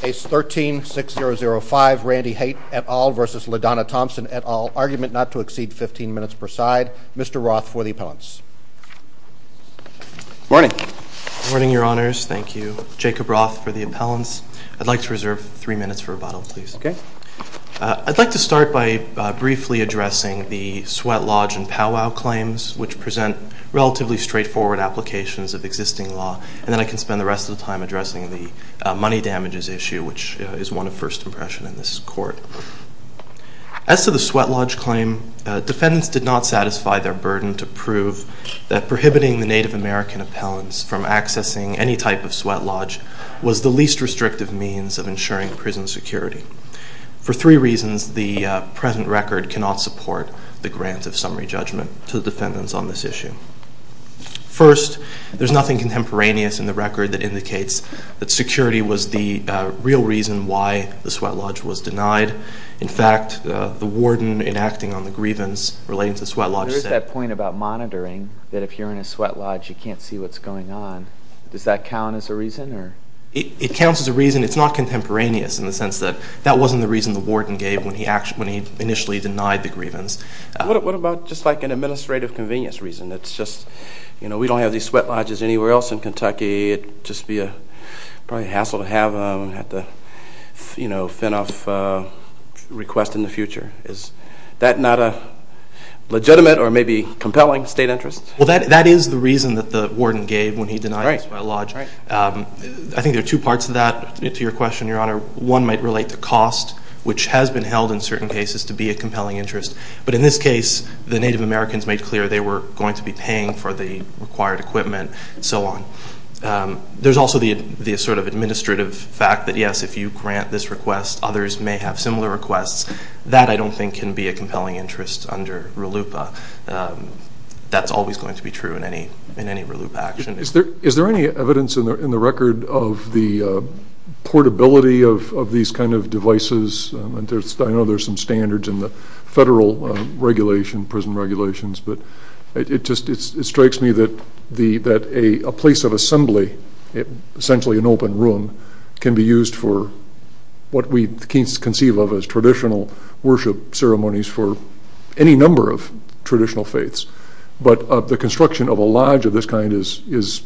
Case 13-6005, Randy Haight, et al. v. LaDonna Thompson, et al., argument not to exceed 15 minutes per side. Mr. Roth for the appellants. Morning. Morning, Your Honors. Thank you. Jacob Roth for the appellants. I'd like to reserve three minutes for rebuttal, please. Okay. I'd like to start by briefly addressing the Sweat Lodge and Pow Wow claims, which present relatively straightforward applications of existing law, and then I can spend the rest of the time addressing the money damages issue, which is one of first impression in this Court. As to the Sweat Lodge claim, defendants did not satisfy their burden to prove that prohibiting the Native American appellants from accessing any type of Sweat Lodge was the least restrictive means of ensuring prison security. For three reasons, the present record cannot support the grant of summary judgment to the defendants on this issue. First, there's nothing contemporaneous in the record that indicates that security was the real reason why the Sweat Lodge was denied. In fact, the warden in acting on the grievance relating to the Sweat Lodge said- There's that point about monitoring that if you're in a Sweat Lodge, you can't see what's going on. Does that count as a reason? It counts as a reason. It's not contemporaneous in the sense that that wasn't the reason the warden gave when he initially denied the grievance. What about just like an administrative convenience reason? It's just, you know, we don't have these Sweat Lodges anywhere else in Kentucky. It'd just be probably a hassle to have them and have to, you know, fend off requests in the future. Is that not a legitimate or maybe compelling state interest? Well, that is the reason that the warden gave when he denied the Sweat Lodge. I think there are two parts of that to your question, Your Honor. One might relate to cost, which has been held in certain cases to be a compelling interest. But in this case, the Native Americans made clear they were going to be paying for the required equipment and so on. There's also the sort of administrative fact that, yes, if you grant this request, others may have similar requests. That, I don't think, can be a compelling interest under RLUIPA. That's always going to be true in any RLUIPA action. Is there any evidence in the record of the portability of these kind of devices? I know there's some standards in the federal regulation, prison regulations, but it strikes me that a place of assembly, essentially an open room, can be used for what we conceive of as traditional worship ceremonies for any number of traditional faiths. But the construction of a lodge of this kind is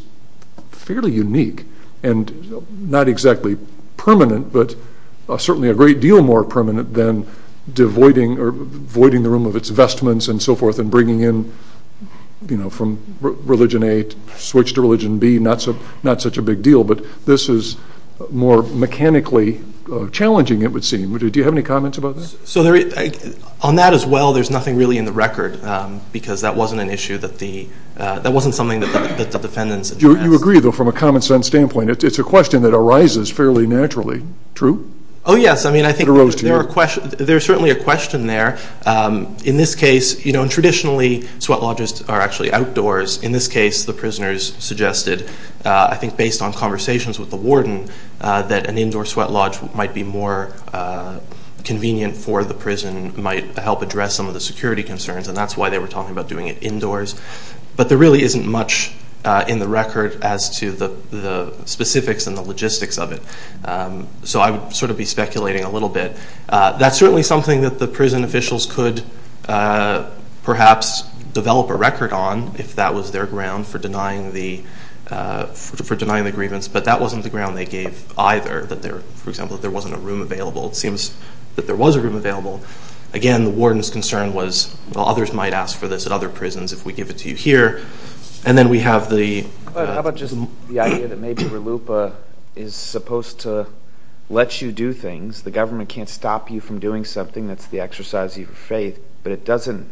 fairly unique and not exactly permanent, but certainly a great deal more permanent than voiding the room of its vestments and so forth and bringing in from religion A to switch to religion B, not such a big deal. But this is more mechanically challenging, it would seem. Do you have any comments about that? On that as well, there's nothing really in the record because that wasn't an issue that the defendants addressed. You agree, though, from a common-sense standpoint, it's a question that arises fairly naturally, true? Oh, yes, I think there's certainly a question there. In this case, traditionally sweat lodges are actually outdoors. In this case, the prisoners suggested, I think based on conversations with the warden, that an indoor sweat lodge might be more convenient for the prison, might help address some of the security concerns, and that's why they were talking about doing it indoors. But there really isn't much in the record as to the specifics and the logistics of it, so I would sort of be speculating a little bit. That's certainly something that the prison officials could perhaps develop a record on if that was their ground for denying the grievance, but that wasn't the ground they gave either. For example, if there wasn't a room available, it seems that there was a room available. Again, the warden's concern was, well, others might ask for this at other prisons if we give it to you here, and then we have the— How about just the idea that maybe RLUIPA is supposed to let you do things. The government can't stop you from doing something. That's the exercise of your faith, but it doesn't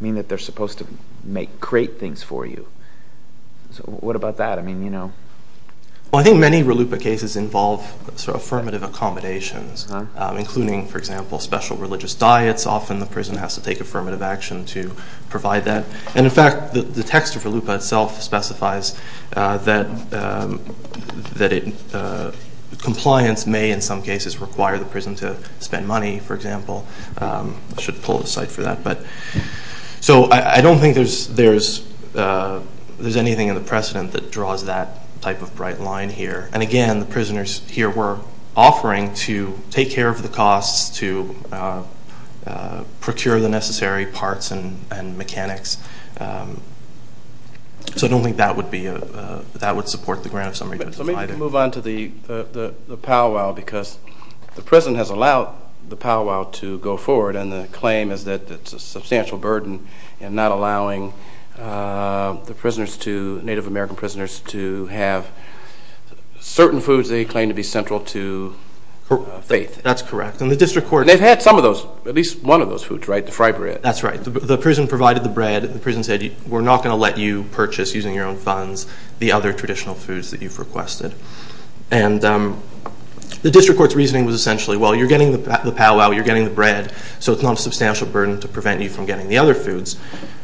mean that they're supposed to create things for you. So what about that? I think many RLUIPA cases involve affirmative accommodations, including, for example, special religious diets. Often the prison has to take affirmative action to provide that. In fact, the text of RLUIPA itself specifies that compliance may in some cases require the prison to spend money, for example. I should pull aside for that. So I don't think there's anything in the precedent that draws that type of bright line here. Again, the prisoners here were offering to take care of the costs, to procure the necessary parts and mechanics. So I don't think that would support the grant of some reason. Let me move on to the powwow because the prison has allowed the powwow to go forward, and the claim is that it's a substantial burden in not allowing the Native American prisoners to have certain foods they claim to be central to faith. That's correct. They've had some of those, at least one of those foods, right, the fry bread? That's right. The prison provided the bread. The prison said we're not going to let you purchase using your own funds the other traditional foods that you've requested. And the district court's reasoning was essentially, well, you're getting the powwow, you're getting the bread, so it's not a substantial burden to prevent you from getting the other foods.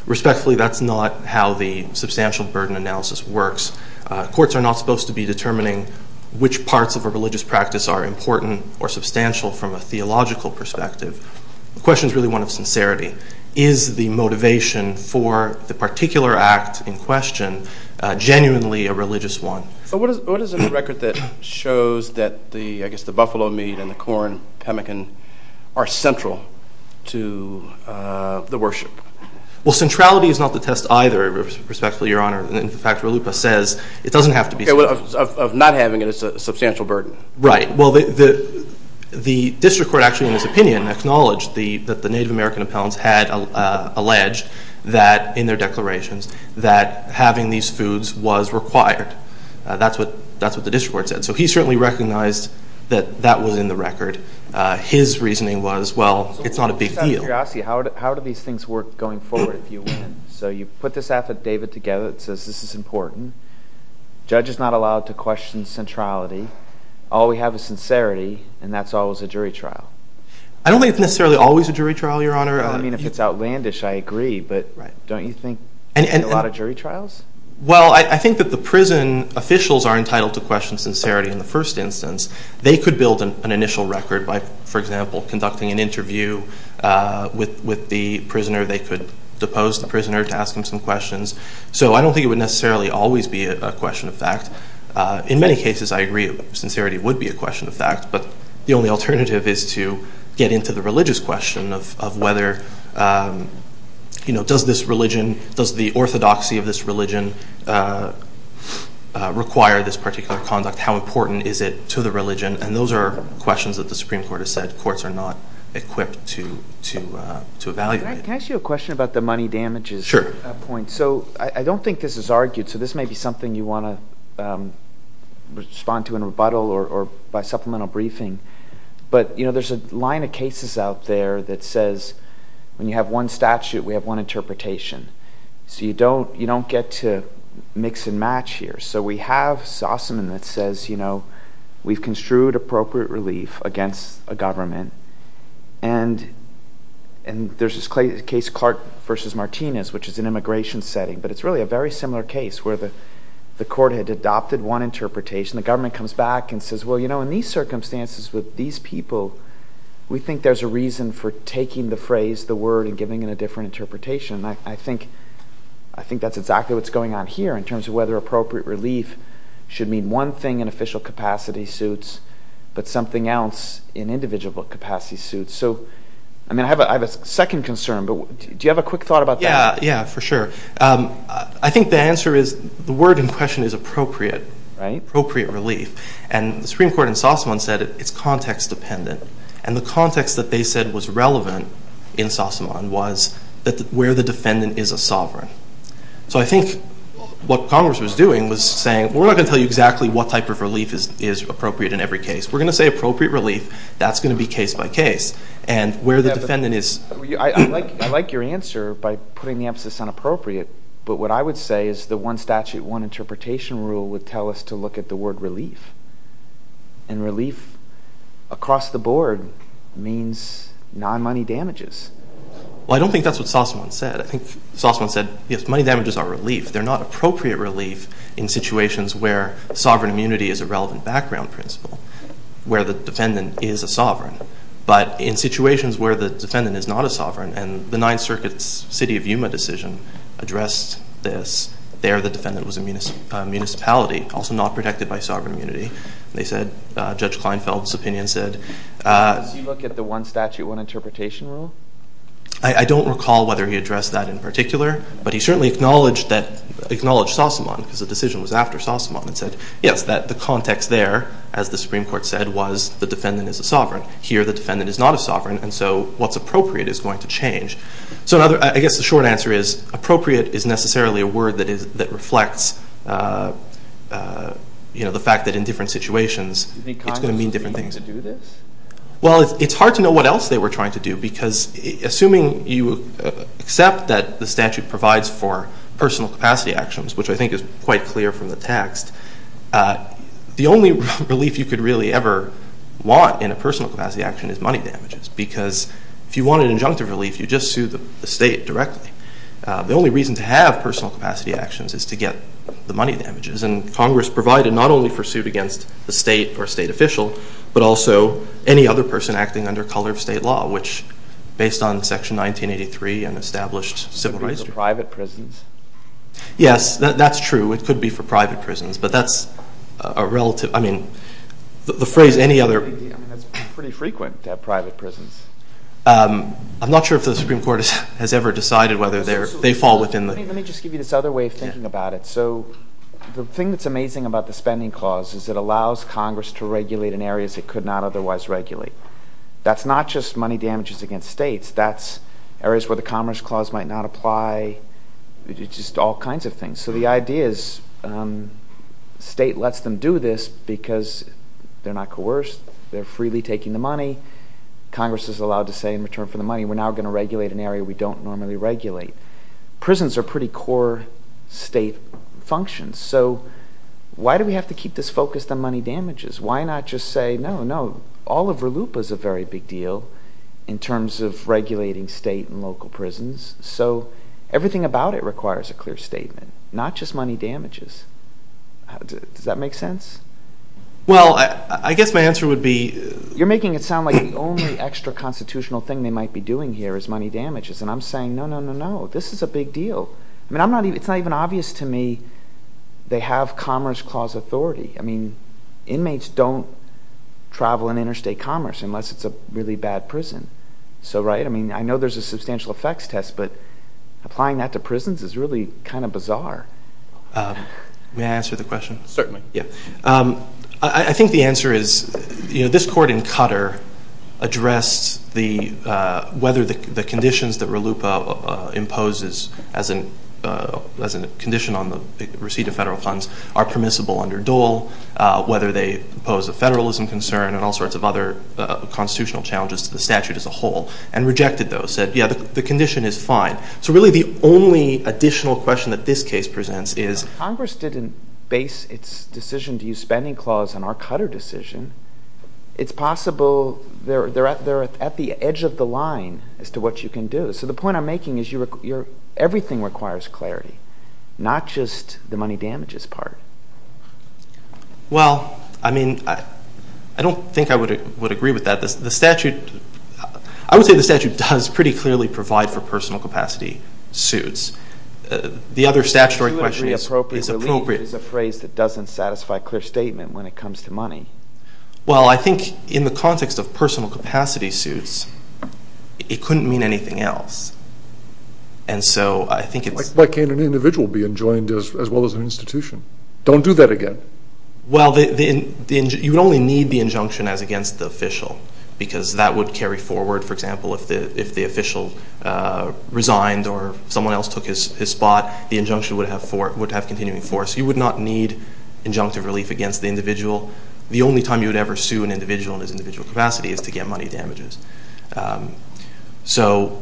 Respectfully, that's not how the substantial burden analysis works. Courts are not supposed to be determining which parts of a religious practice are important or substantial from a theological perspective. The question is really one of sincerity. Is the motivation for the particular act in question genuinely a religious one? What is it in the record that shows that the buffalo meat and the corn, pemmican, are central to the worship? Well, centrality is not the test either, respectfully, Your Honor. In fact, Ralupa says it doesn't have to be central. Of not having it as a substantial burden. Right. Well, the district court actually, in his opinion, acknowledged that the Native American appellants had alleged that, in their declarations, that having these foods was required. That's what the district court said. So he certainly recognized that that was in the record. His reasoning was, well, it's not a big deal. How do these things work going forward if you win? So you put this affidavit together that says this is important. The judge is not allowed to question centrality. All we have is sincerity, and that's always a jury trial. I don't think it's necessarily always a jury trial, Your Honor. I mean, if it's outlandish, I agree. But don't you think a lot of jury trials? Well, I think that the prison officials are entitled to question sincerity in the first instance. They could build an initial record by, for example, conducting an interview with the prisoner. They could depose the prisoner to ask him some questions. So I don't think it would necessarily always be a question of fact. In many cases, I agree, sincerity would be a question of fact. But the only alternative is to get into the religious question of whether, you know, does this religion, does the orthodoxy of this religion require this particular conduct? How important is it to the religion? And those are questions that the Supreme Court has said courts are not equipped to evaluate. Can I ask you a question about the money damages point? So I don't think this is argued. So this may be something you want to respond to in rebuttal or by supplemental briefing. But, you know, there's a line of cases out there that says when you have one statute, we have one interpretation. So you don't get to mix and match here. So we have Sossaman that says, you know, we've construed appropriate relief against a government. And there's this case, Clark v. Martinez, which is an immigration setting. But it's really a very similar case where the court had adopted one interpretation. The government comes back and says, well, you know, in these circumstances with these people, we think there's a reason for taking the phrase, the word, and giving it a different interpretation. I think that's exactly what's going on here in terms of whether appropriate relief should mean one thing in official capacity suits but something else in individual capacity suits. So, I mean, I have a second concern. But do you have a quick thought about that? Yeah. Yeah, for sure. I think the answer is the word in question is appropriate. Right. Appropriate relief. And the Supreme Court in Sossaman said it's context dependent. So I think what Congress was doing was saying, well, we're not going to tell you exactly what type of relief is appropriate in every case. We're going to say appropriate relief. That's going to be case by case. And where the defendant is. I like your answer by putting the emphasis on appropriate. But what I would say is the one statute, one interpretation rule would tell us to look at the word relief. And relief across the board means non-money damages. Well, I don't think that's what Sossaman said. I think Sossaman said, yes, money damages are relief. They're not appropriate relief in situations where sovereign immunity is a relevant background principle, where the defendant is a sovereign. But in situations where the defendant is not a sovereign, and the Ninth Circuit's city of Yuma decision addressed this, there the defendant was a municipality, also not protected by sovereign immunity. They said, Judge Kleinfeld's opinion said. Does he look at the one statute, one interpretation rule? I don't recall whether he addressed that in particular. But he certainly acknowledged Sossaman, because the decision was after Sossaman, and said, yes, that the context there, as the Supreme Court said, was the defendant is a sovereign. Here the defendant is not a sovereign, and so what's appropriate is going to change. So I guess the short answer is appropriate is necessarily a word that reflects the fact that in different situations it's going to mean different things. Do you think Congress is trying to do this? Well, it's hard to know what else they were trying to do, because assuming you accept that the statute provides for personal capacity actions, which I think is quite clear from the text, the only relief you could really ever want in a personal capacity action is money damages, because if you want an injunctive relief, you just sue the state directly. The only reason to have personal capacity actions is to get the money damages, and Congress provided not only for suit against the state or state official, but also any other person acting under color of state law, which based on Section 1983 and established civil rights. Would it be for private prisons? Yes, that's true. It could be for private prisons, but that's a relative – I mean, the phrase any other – I mean, that's pretty frequent to have private prisons. I'm not sure if the Supreme Court has ever decided whether they fall within the – Let me just give you this other way of thinking about it. So the thing that's amazing about the Spending Clause is it allows Congress to regulate in areas it could not otherwise regulate. That's not just money damages against states. That's areas where the Commerce Clause might not apply. It's just all kinds of things. So the idea is the state lets them do this because they're not coerced. They're freely taking the money. Congress is allowed to say in return for the money, we're now going to regulate an area we don't normally regulate. Prisons are pretty core state functions. So why do we have to keep this focused on money damages? Why not just say, no, no, Oliver Looper is a very big deal in terms of regulating state and local prisons. So everything about it requires a clear statement, not just money damages. Does that make sense? Well, I guess my answer would be – You're making it sound like the only extra constitutional thing they might be doing here is money damages. And I'm saying, no, no, no, no. This is a big deal. I mean, it's not even obvious to me they have Commerce Clause authority. I mean, inmates don't travel in interstate commerce unless it's a really bad prison. So, right, I mean, I know there's a substantial effects test, but applying that to prisons is really kind of bizarre. May I answer the question? Certainly. I think the answer is, you know, this court in Qatar addressed the – whether the conditions that RLUIPA imposes as a condition on the receipt of federal funds are permissible under Dole, whether they pose a federalism concern and all sorts of other constitutional challenges to the statute as a whole, and rejected those, said, yeah, the condition is fine. So really the only additional question that this case presents is – Congress didn't base its decision to use spending clause on our Qatar decision. It's possible they're at the edge of the line as to what you can do. So the point I'm making is everything requires clarity, not just the money damages part. Well, I mean, I don't think I would agree with that. The statute – I would say the statute does pretty clearly provide for personal capacity suits. The other statutory question is appropriate. It's a phrase that doesn't satisfy clear statement when it comes to money. Well, I think in the context of personal capacity suits, it couldn't mean anything else. And so I think it's – Why can't an individual be enjoined as well as an institution? Don't do that again. Well, you would only need the injunction as against the official because that would carry forward, for example, if the official resigned or someone else took his spot. The injunction would have continuing force. You would not need injunctive relief against the individual. The only time you would ever sue an individual in his individual capacity is to get money damages. So,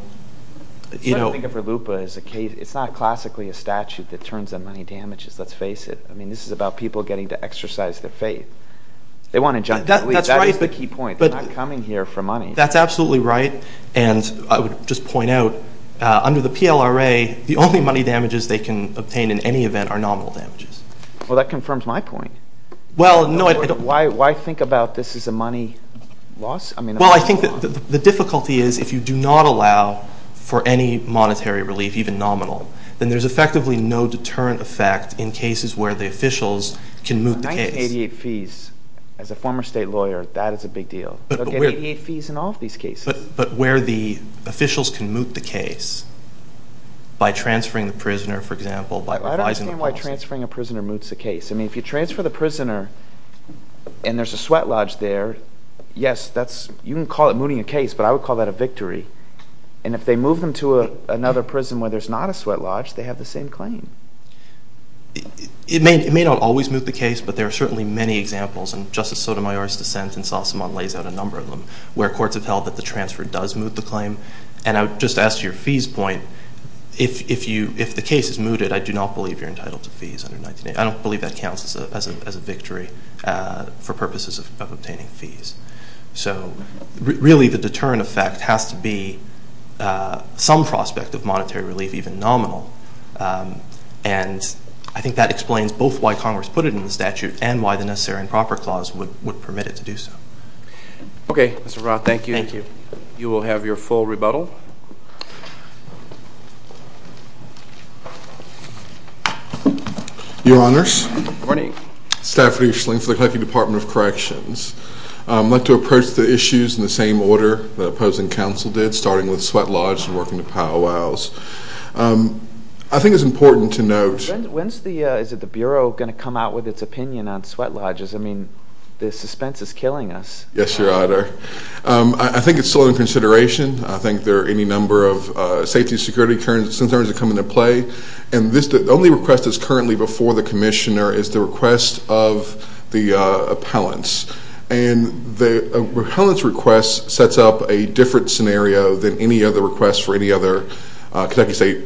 you know – I think of RLUIPA as a case – it's not classically a statute that turns on money damages, let's face it. I mean, this is about people getting to exercise their faith. They want injunctive relief. That is the key point. They're not coming here for money. That's absolutely right. And I would just point out, under the PLRA, the only money damages they can obtain in any event are nominal damages. Well, that confirms my point. Well, no – Why think about this as a money loss? Well, I think the difficulty is if you do not allow for any monetary relief, even nominal, then there's effectively no deterrent effect in cases where the officials can move the case. 1988 fees. As a former state lawyer, that is a big deal. They'll get 88 fees in all of these cases. But where the officials can move the case, by transferring the prisoner, for example, by revising the policy – I don't understand why transferring a prisoner moves the case. I mean, if you transfer the prisoner and there's a sweat lodge there, yes, that's – you can call it moving a case, but I would call that a victory. And if they move them to another prison where there's not a sweat lodge, they have the same claim. It may not always move the case, but there are certainly many examples. And Justice Sotomayor's dissent in Sassamon lays out a number of them, where courts have held that the transfer does move the claim. And I would just ask your fees point. If the case is mooted, I do not believe you're entitled to fees under 1988. I don't believe that counts as a victory for purposes of obtaining fees. So really the deterrent effect has to be some prospect of monetary relief, even nominal. And I think that explains both why Congress put it in the statute and why the Necessary and Proper Clause would permit it to do so. Okay. Mr. Roth, thank you. Thank you. You will have your full rebuttal. Your Honors. Good morning. Stafford E. Schling for the Connecticut Department of Corrections. I'd like to approach the issues in the same order the opposing counsel did, starting with sweat lodges and working to powwows. I think it's important to note When is the Bureau going to come out with its opinion on sweat lodges? I mean, the suspense is killing us. Yes, Your Honor. I think it's still in consideration. I think there are any number of safety and security concerns that come into play. And the only request that's currently before the Commissioner is the request of the appellants. And the appellant's request sets up a different scenario than any other request for any other Kentucky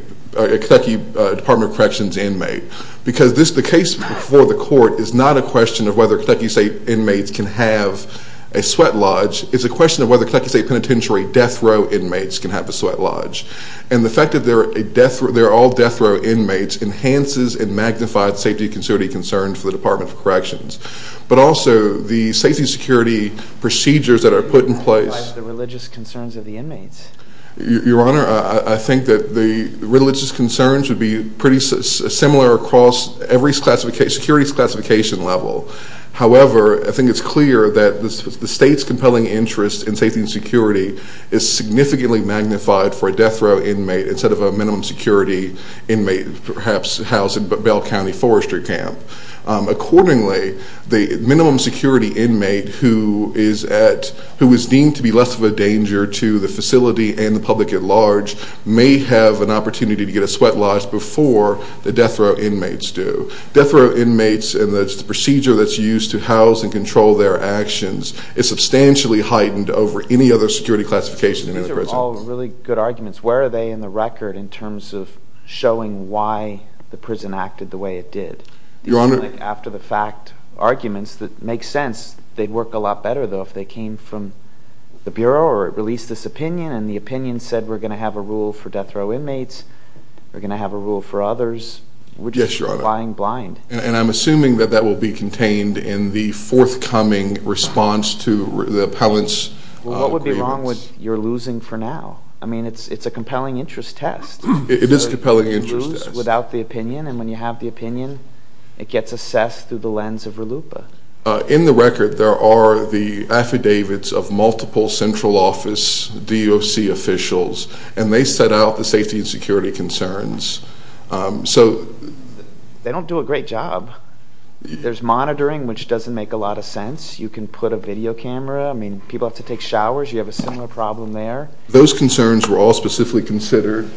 Department of Corrections inmate. Because the case before the court is not a question of whether Kentucky State inmates can have a sweat lodge. It's a question of whether Kentucky State Penitentiary death row inmates can have a sweat lodge. And the fact that they're all death row inmates enhances and magnifies safety and security concerns for the Department of Corrections. But also, the safety and security procedures that are put in place magnifies the religious concerns of the inmates. Your Honor, I think that the religious concerns would be pretty similar across every security classification level. However, I think it's clear that the State's compelling interest in safety and security is significantly magnified for a death row inmate instead of a minimum security inmate perhaps housed in Bell County Forestry Camp. Accordingly, the minimum security inmate who is deemed to be less of a danger to the facility and the public at large may have an opportunity to get a sweat lodge before the death row inmates do. Death row inmates and the procedure that's used to house and control their actions is substantially heightened over any other security classification in any prison. These are all really good arguments. Where are they in the record in terms of showing why the prison acted the way it did? These are like after-the-fact arguments that make sense. They'd work a lot better, though, if they came from the Bureau or released this opinion and the opinion said we're going to have a rule for death row inmates, we're going to have a rule for others. Yes, Your Honor. We're just lying blind. And I'm assuming that that will be contained in the forthcoming response to the appellant's grievance. Well, what would be wrong with you're losing for now? I mean, it's a compelling interest test. It is a compelling interest test. And when you have the opinion, it gets assessed through the lens of RLUIPA. In the record, there are the affidavits of multiple central office DOC officials, and they set out the safety and security concerns. So they don't do a great job. There's monitoring, which doesn't make a lot of sense. You can put a video camera. I mean, people have to take showers. You have a similar problem there. Those concerns were all specifically considered.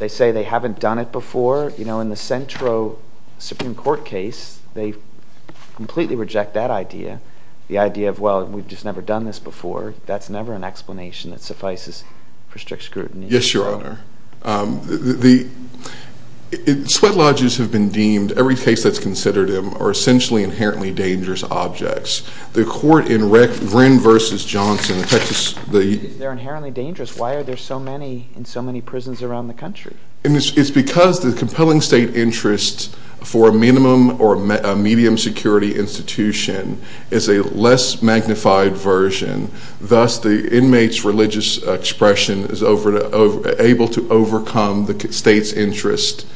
They say they haven't done it before. You know, in the Centro Supreme Court case, they completely reject that idea, the idea of, well, we've just never done this before. That's never an explanation that suffices for strict scrutiny. Yes, Your Honor. Sweat lodges have been deemed, every case that's considered them, are essentially inherently dangerous objects. The court in Wren v. Johnson, the Texas – If they're inherently dangerous, why are there so many in so many prisons around the country? It's because the compelling state interest for a minimum or a medium security institution is a less magnified version. Thus, the inmate's religious expression is able to overcome the state's interest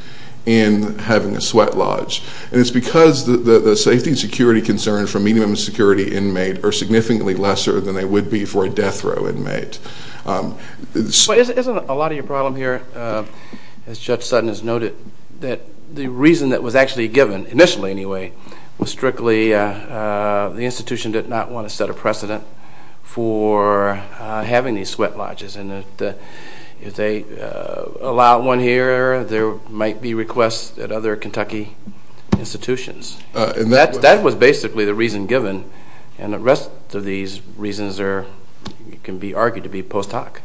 in having a sweat lodge. And it's because the safety and security concerns for a medium security inmate are significantly lesser than they would be for a death row inmate. Isn't a lot of your problem here, as Judge Sutton has noted, that the reason that was actually given, initially anyway, was strictly the institution did not want to set a precedent for having these sweat lodges. And if they allow one here, there might be requests at other Kentucky institutions. That was basically the reason given. And the rest of these reasons can be argued to be post hoc.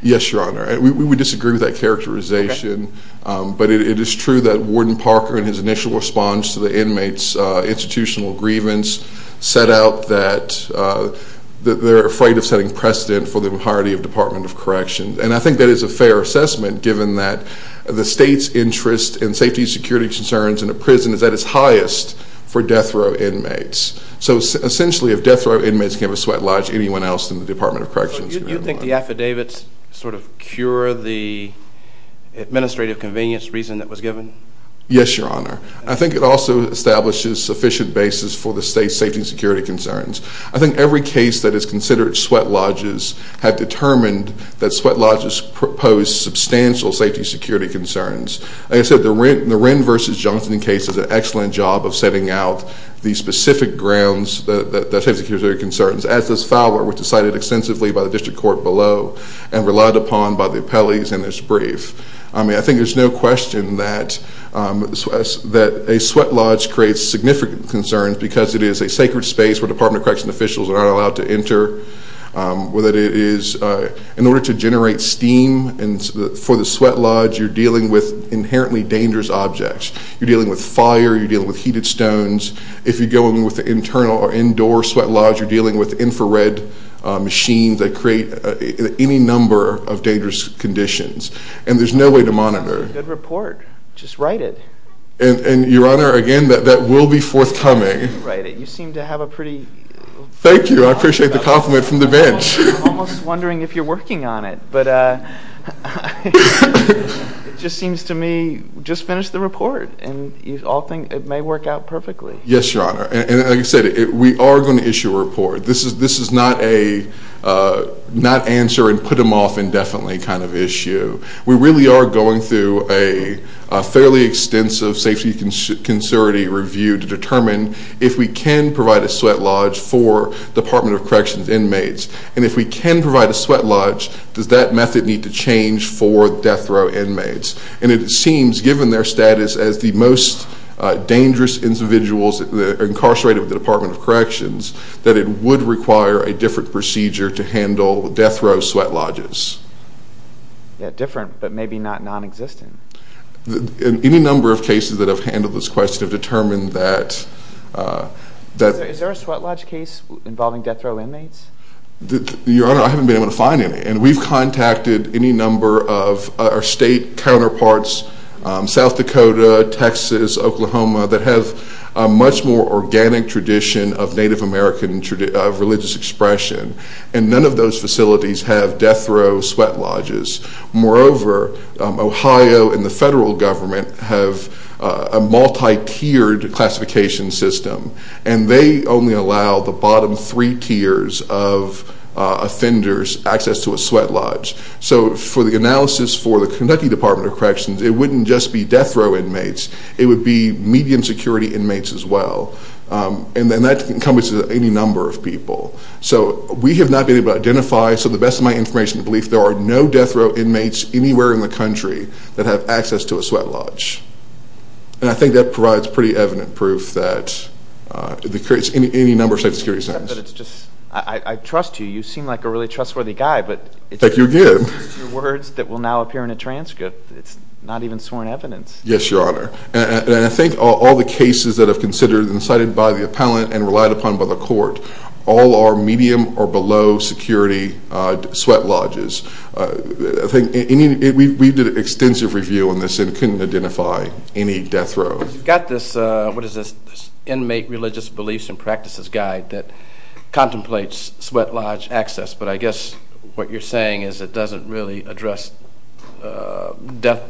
Yes, Your Honor. We disagree with that characterization. But it is true that Warden Parker, in his initial response to the inmates' institutional grievance, set out that they're afraid of setting precedent for the entirety of Department of Corrections. And I think that is a fair assessment, given that the state's interest in safety and security concerns in a prison is at its highest for death row inmates. So essentially, if death row inmates can't have a sweat lodge, anyone else in the Department of Corrections can have one. So you think the affidavits sort of cure the administrative convenience reason that was given? Yes, Your Honor. I think it also establishes sufficient basis for the state's safety and security concerns. I think every case that is considered sweat lodges had determined that sweat lodges proposed substantial safety and security concerns. Like I said, the Wren v. Johnson case does an excellent job of setting out the specific grounds, the safety and security concerns, as does Fowler, which is cited extensively by the district court below and relied upon by the appellees in this brief. I mean, I think there's no question that a sweat lodge creates significant concerns because it is a sacred space where Department of Corrections officials are not allowed to enter. Whether it is in order to generate steam for the sweat lodge, you're dealing with inherently dangerous objects. You're dealing with fire. You're dealing with heated stones. If you go in with an internal or indoor sweat lodge, you're dealing with infrared machines that create any number of dangerous conditions. And there's no way to monitor. That's a good report. Just write it. And, Your Honor, again, that will be forthcoming. Write it. You seem to have a pretty good thought about it. Thank you. I appreciate the compliment from the bench. I'm almost wondering if you're working on it. But it just seems to me, just finish the report. And you all think it may work out perfectly. Yes, Your Honor. And like I said, we are going to issue a report. This is not a not answer and put them off indefinitely kind of issue. We really are going through a fairly extensive safety and security review to determine if we can provide a sweat lodge for Department of Corrections inmates. And if we can provide a sweat lodge, does that method need to change for death row inmates? And it seems, given their status as the most dangerous individuals incarcerated with the Department of Corrections, that it would require a different procedure to handle death row sweat lodges. Yeah, different, but maybe not nonexistent. Any number of cases that have handled this question have determined that... Your Honor, I haven't been able to find any. And we've contacted any number of our state counterparts, South Dakota, Texas, Oklahoma, that have a much more organic tradition of Native American religious expression. And none of those facilities have death row sweat lodges. Moreover, Ohio and the federal government have a multi-tiered classification system. And they only allow the bottom three tiers of offenders access to a sweat lodge. So for the analysis for the Kentucky Department of Corrections, it wouldn't just be death row inmates. It would be median security inmates as well. And that encompasses any number of people. So we have not been able to identify... So the best of my information, I believe there are no death row inmates anywhere in the country that have access to a sweat lodge. And I think that provides pretty evident proof that... It creates any number of safety security signs. But it's just... I trust you. You seem like a really trustworthy guy, but... Thank you again. It's just words that will now appear in a transcript. It's not even sworn evidence. Yes, Your Honor. And I think all the cases that have been cited by the appellant and relied upon by the court, all are medium or below security sweat lodges. We did extensive review on this and couldn't identify any death row. You've got this Inmate Religious Beliefs and Practices Guide that contemplates sweat lodge access. But I guess what you're saying is it doesn't really address death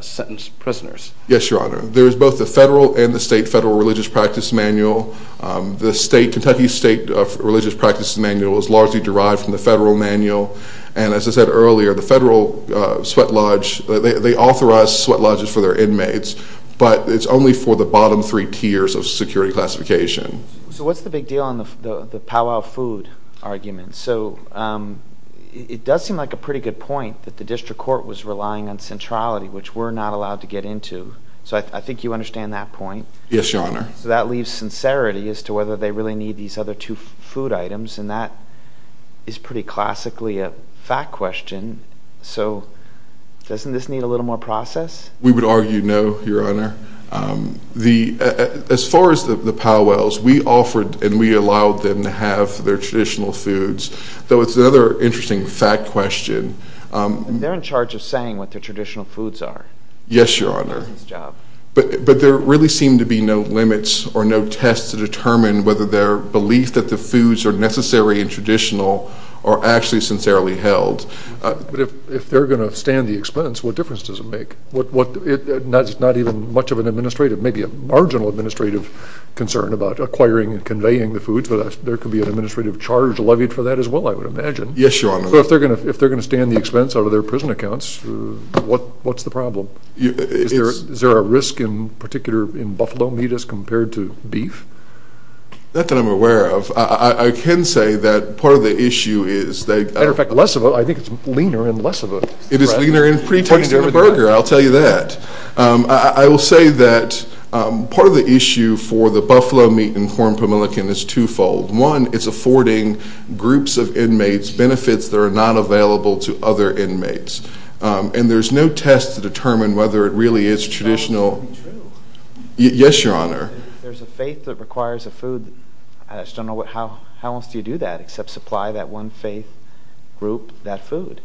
sentence prisoners. Yes, Your Honor. There is both the federal and the state federal religious practice manual. The Kentucky State Religious Practices Manual is largely derived from the federal manual. And as I said earlier, the federal sweat lodge, they authorize sweat lodges for their inmates, but it's only for the bottom three tiers of security classification. So what's the big deal on the powwow food argument? So it does seem like a pretty good point that the district court was relying on centrality, which we're not allowed to get into. So I think you understand that point. Yes, Your Honor. So that leaves sincerity as to whether they really need these other two food items, and that is pretty classically a fact question. So doesn't this need a little more process? We would argue no, Your Honor. As far as the powwows, we offered and we allowed them to have their traditional foods, though it's another interesting fact question. They're in charge of saying what their traditional foods are. Yes, Your Honor. That's their job. But there really seemed to be no limits or no test to determine whether their belief that the foods are necessary and traditional are actually sincerely held. But if they're going to stand the expense, what difference does it make? It's not even much of an administrative, maybe a marginal administrative, concern about acquiring and conveying the foods, but there could be an administrative charge levied for that as well, I would imagine. Yes, Your Honor. But if they're going to stand the expense out of their prison accounts, what's the problem? Is there a risk in particular in buffalo meat as compared to beef? Not that I'm aware of. I can say that part of the issue is that they – As a matter of fact, less of a – I think it's leaner in less of a – It is leaner in pre-tasting the burger, I'll tell you that. I will say that part of the issue for the buffalo meat and corn pomelican is twofold. One, it's affording groups of inmates benefits that are not available to other inmates, and there's no test to determine whether it really is traditional. That can't be true. Yes, Your Honor. There's a faith that requires a food. I just don't know how else do you do that except supply that one faith group that food.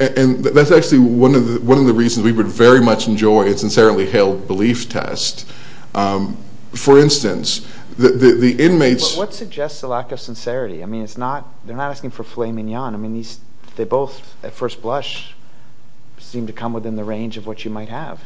And that's actually one of the reasons we would very much enjoy a sincerely held belief test. For instance, the inmates – What suggests a lack of sincerity? I mean, it's not – they're not asking for filet mignon. I mean, they both at first blush seem to come within the range of what you might have.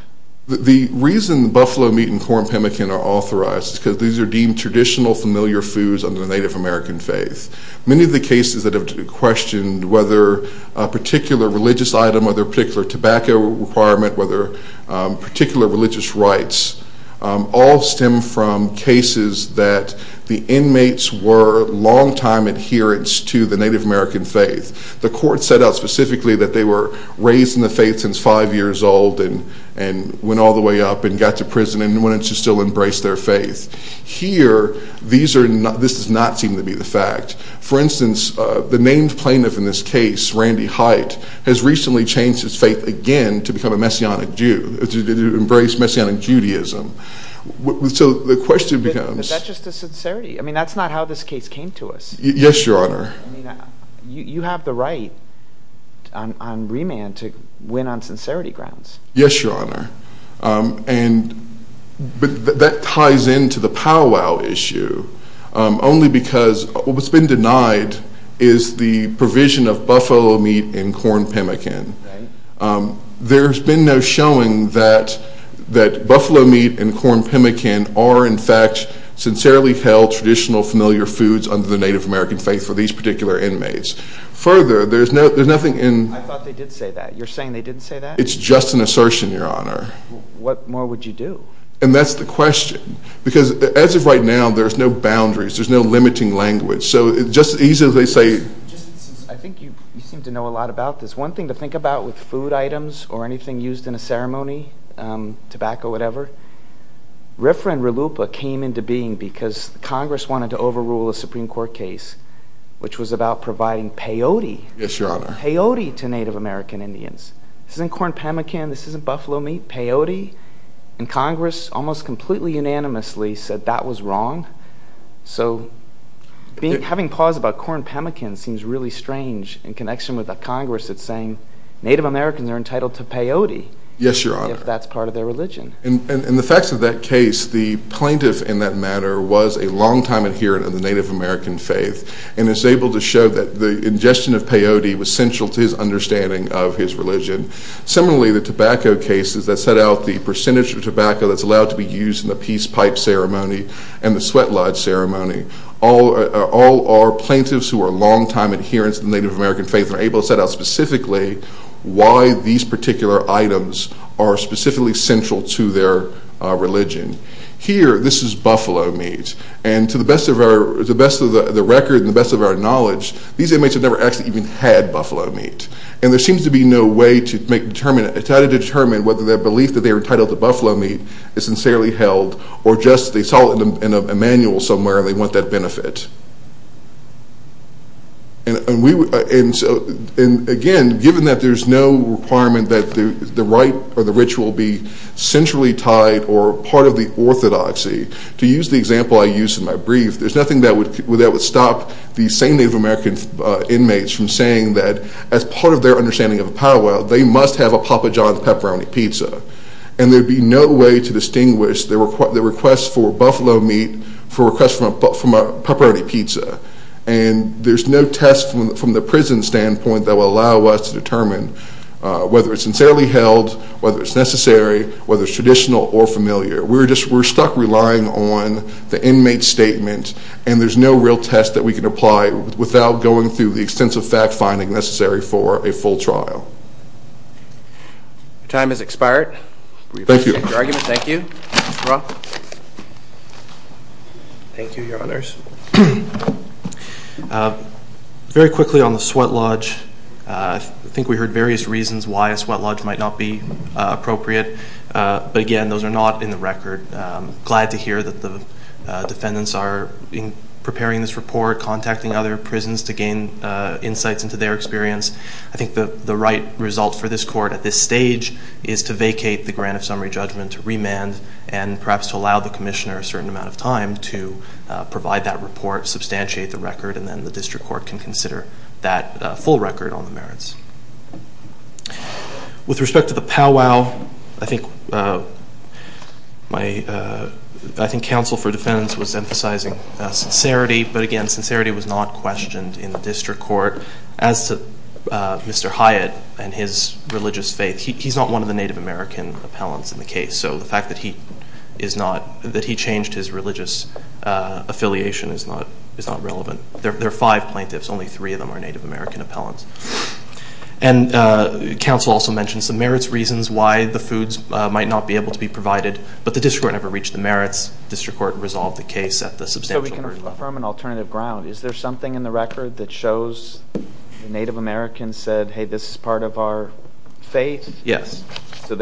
The reason the buffalo meat and corn pomelican are authorized is because these are deemed traditional familiar foods under the Native American faith. Many of the cases that have been questioned, whether a particular religious item, whether a particular tobacco requirement, whether particular religious rites, all stem from cases that the inmates were longtime adherents to the Native American faith. The court set out specifically that they were raised in the faith since five years old and went all the way up and got to prison and wanted to still embrace their faith. Here, this does not seem to be the fact. For instance, the named plaintiff in this case, Randy Hite, has recently changed his faith again to become a Messianic Jew, to embrace Messianic Judaism. So the question becomes – But that's just a sincerity. I mean, that's not how this case came to us. Yes, Your Honor. I mean, you have the right on remand to win on sincerity grounds. Yes, Your Honor. But that ties into the powwow issue only because what's been denied is the provision of buffalo meat and corn pimmican. Right. There's been no showing that buffalo meat and corn pimmican are, in fact, sincerely held traditional familiar foods under the Native American faith for these particular inmates. Further, there's nothing in – I thought they did say that. You're saying they didn't say that? It's just an assertion, Your Honor. What more would you do? And that's the question. Because as of right now, there's no boundaries. There's no limiting language. So it's just as easy as they say – I think you seem to know a lot about this. One thing to think about with food items or anything used in a ceremony, tobacco, whatever, RFRA and RLUIPA came into being because Congress wanted to overrule a Supreme Court case, which was about providing peyote. Yes, Your Honor. Peyote to Native American Indians. This isn't corn pimmican. This isn't buffalo meat. Peyote. And Congress almost completely unanimously said that was wrong. So having pause about corn pimmican seems really strange in connection with a Congress that's saying Native Americans are entitled to peyote. Yes, Your Honor. If that's part of their religion. In the facts of that case, the plaintiff in that matter was a longtime adherent of the Native American faith and is able to show that the ingestion of peyote was central to his understanding of his religion. Similarly, the tobacco cases that set out the percentage of tobacco that's allowed to be used in the peace pipe ceremony and the sweat lodge ceremony, all are plaintiffs who are longtime adherents of the Native American faith and are able to set out specifically why these particular items are specifically central to their religion. Here, this is buffalo meat. And to the best of the record and the best of our knowledge, these inmates have never actually even had buffalo meat. And there seems to be no way to try to determine whether their belief that they are entitled to buffalo meat is sincerely held or just they saw it in a manual somewhere and they want that benefit. And again, given that there's no requirement that the rite or the ritual be centrally tied or part of the orthodoxy, to use the example I used in my brief, there's nothing that would stop these same Native American inmates from saying that as part of their understanding of a powwow, they must have a Papa John's pepperoni pizza. And there would be no way to distinguish the request for buffalo meat from a pepperoni pizza. And there's no test from the prison standpoint that would allow us to determine whether it's sincerely held, whether it's necessary, whether it's traditional or familiar. We're stuck relying on the inmate's statement, and there's no real test that we can apply without going through the extensive fact-finding necessary for a full trial. Your time has expired. Thank you. We appreciate your argument. Thank you. Mr. Roth? Thank you, Your Honors. Very quickly on the sweat lodge, I think we heard various reasons why a sweat lodge might not be appropriate. But, again, those are not in the record. Glad to hear that the defendants are preparing this report, contacting other prisons to gain insights into their experience. I think the right result for this court at this stage is to vacate the grant of summary judgment, to remand, and perhaps to allow the commissioner a certain amount of time to provide that report, substantiate the record, and then the district court can consider that full record on the merits. With respect to the powwow, I think counsel for defendants was emphasizing sincerity, but, again, sincerity was not questioned in the district court. As to Mr. Hyatt and his religious faith, he's not one of the Native American appellants in the case, so the fact that he changed his religious affiliation is not relevant. There are five plaintiffs. Only three of them are Native American appellants. And counsel also mentioned some merits reasons why the foods might not be able to be provided, but the district court never reached the merits. The district court resolved the case at the substantial verdict level. So we can affirm an alternative ground. Is there something in the record that shows the Native American said, hey, this is part of our faith? Yes. So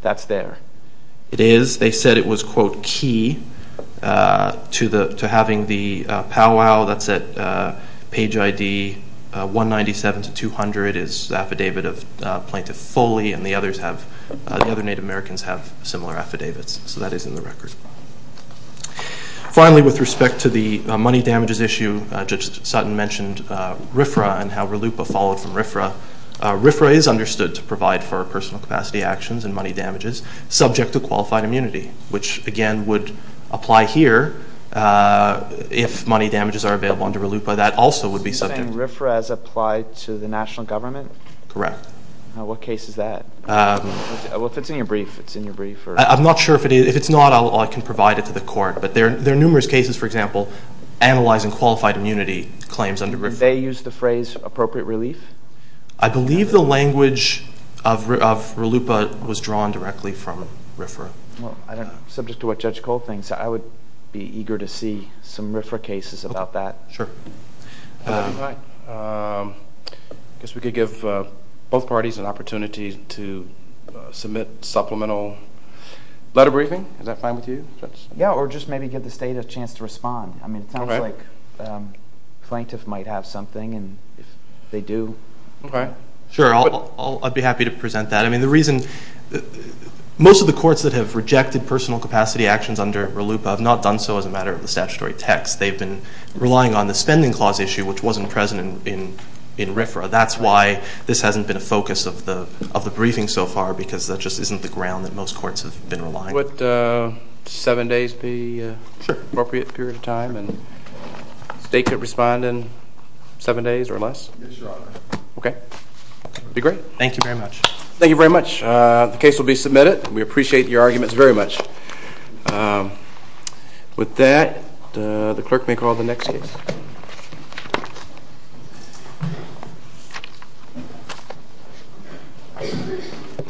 that's there? It is. They said it was, quote, key to having the powwow. That's at page ID 197 to 200 is the affidavit of Plaintiff Foley, and the other Native Americans have similar affidavits. So that is in the record. Finally, with respect to the money damages issue, Judge Sutton mentioned RFRA and how RLUIPA followed from RFRA. RFRA is understood to provide for personal capacity actions and money damages subject to qualified immunity, which, again, would apply here if money damages are available under RLUIPA. That also would be subject. Are you saying RFRA is applied to the national government? Correct. What case is that? Well, if it's in your brief, it's in your brief. I'm not sure if it is. If it's not, I can provide it to the court. But there are numerous cases, for example, analyzing qualified immunity claims under RFRA. Do they use the phrase appropriate relief? I believe the language of RLUIPA was drawn directly from RFRA. Well, subject to what Judge Cole thinks, I would be eager to see some RFRA cases about that. Sure. All right. I guess we could give both parties an opportunity to submit supplemental letter briefing. Is that fine with you, Judge? Yeah, or just maybe give the State a chance to respond. I mean, it sounds like the plaintiff might have something, and if they do. Okay. Sure, I'd be happy to present that. I mean, the reason most of the courts that have rejected personal capacity actions under RLUIPA have not done so as a matter of the statutory text. They've been relying on the spending clause issue, which wasn't present in RFRA. That's why this hasn't been a focus of the briefing so far, because that just isn't the ground that most courts have been relying on. Judge, would seven days be an appropriate period of time? And the State could respond in seven days or less? Yes, Your Honor. Okay. That would be great. Thank you very much. Thank you very much. The case will be submitted. We appreciate your arguments very much. With that, the clerk may call the next case.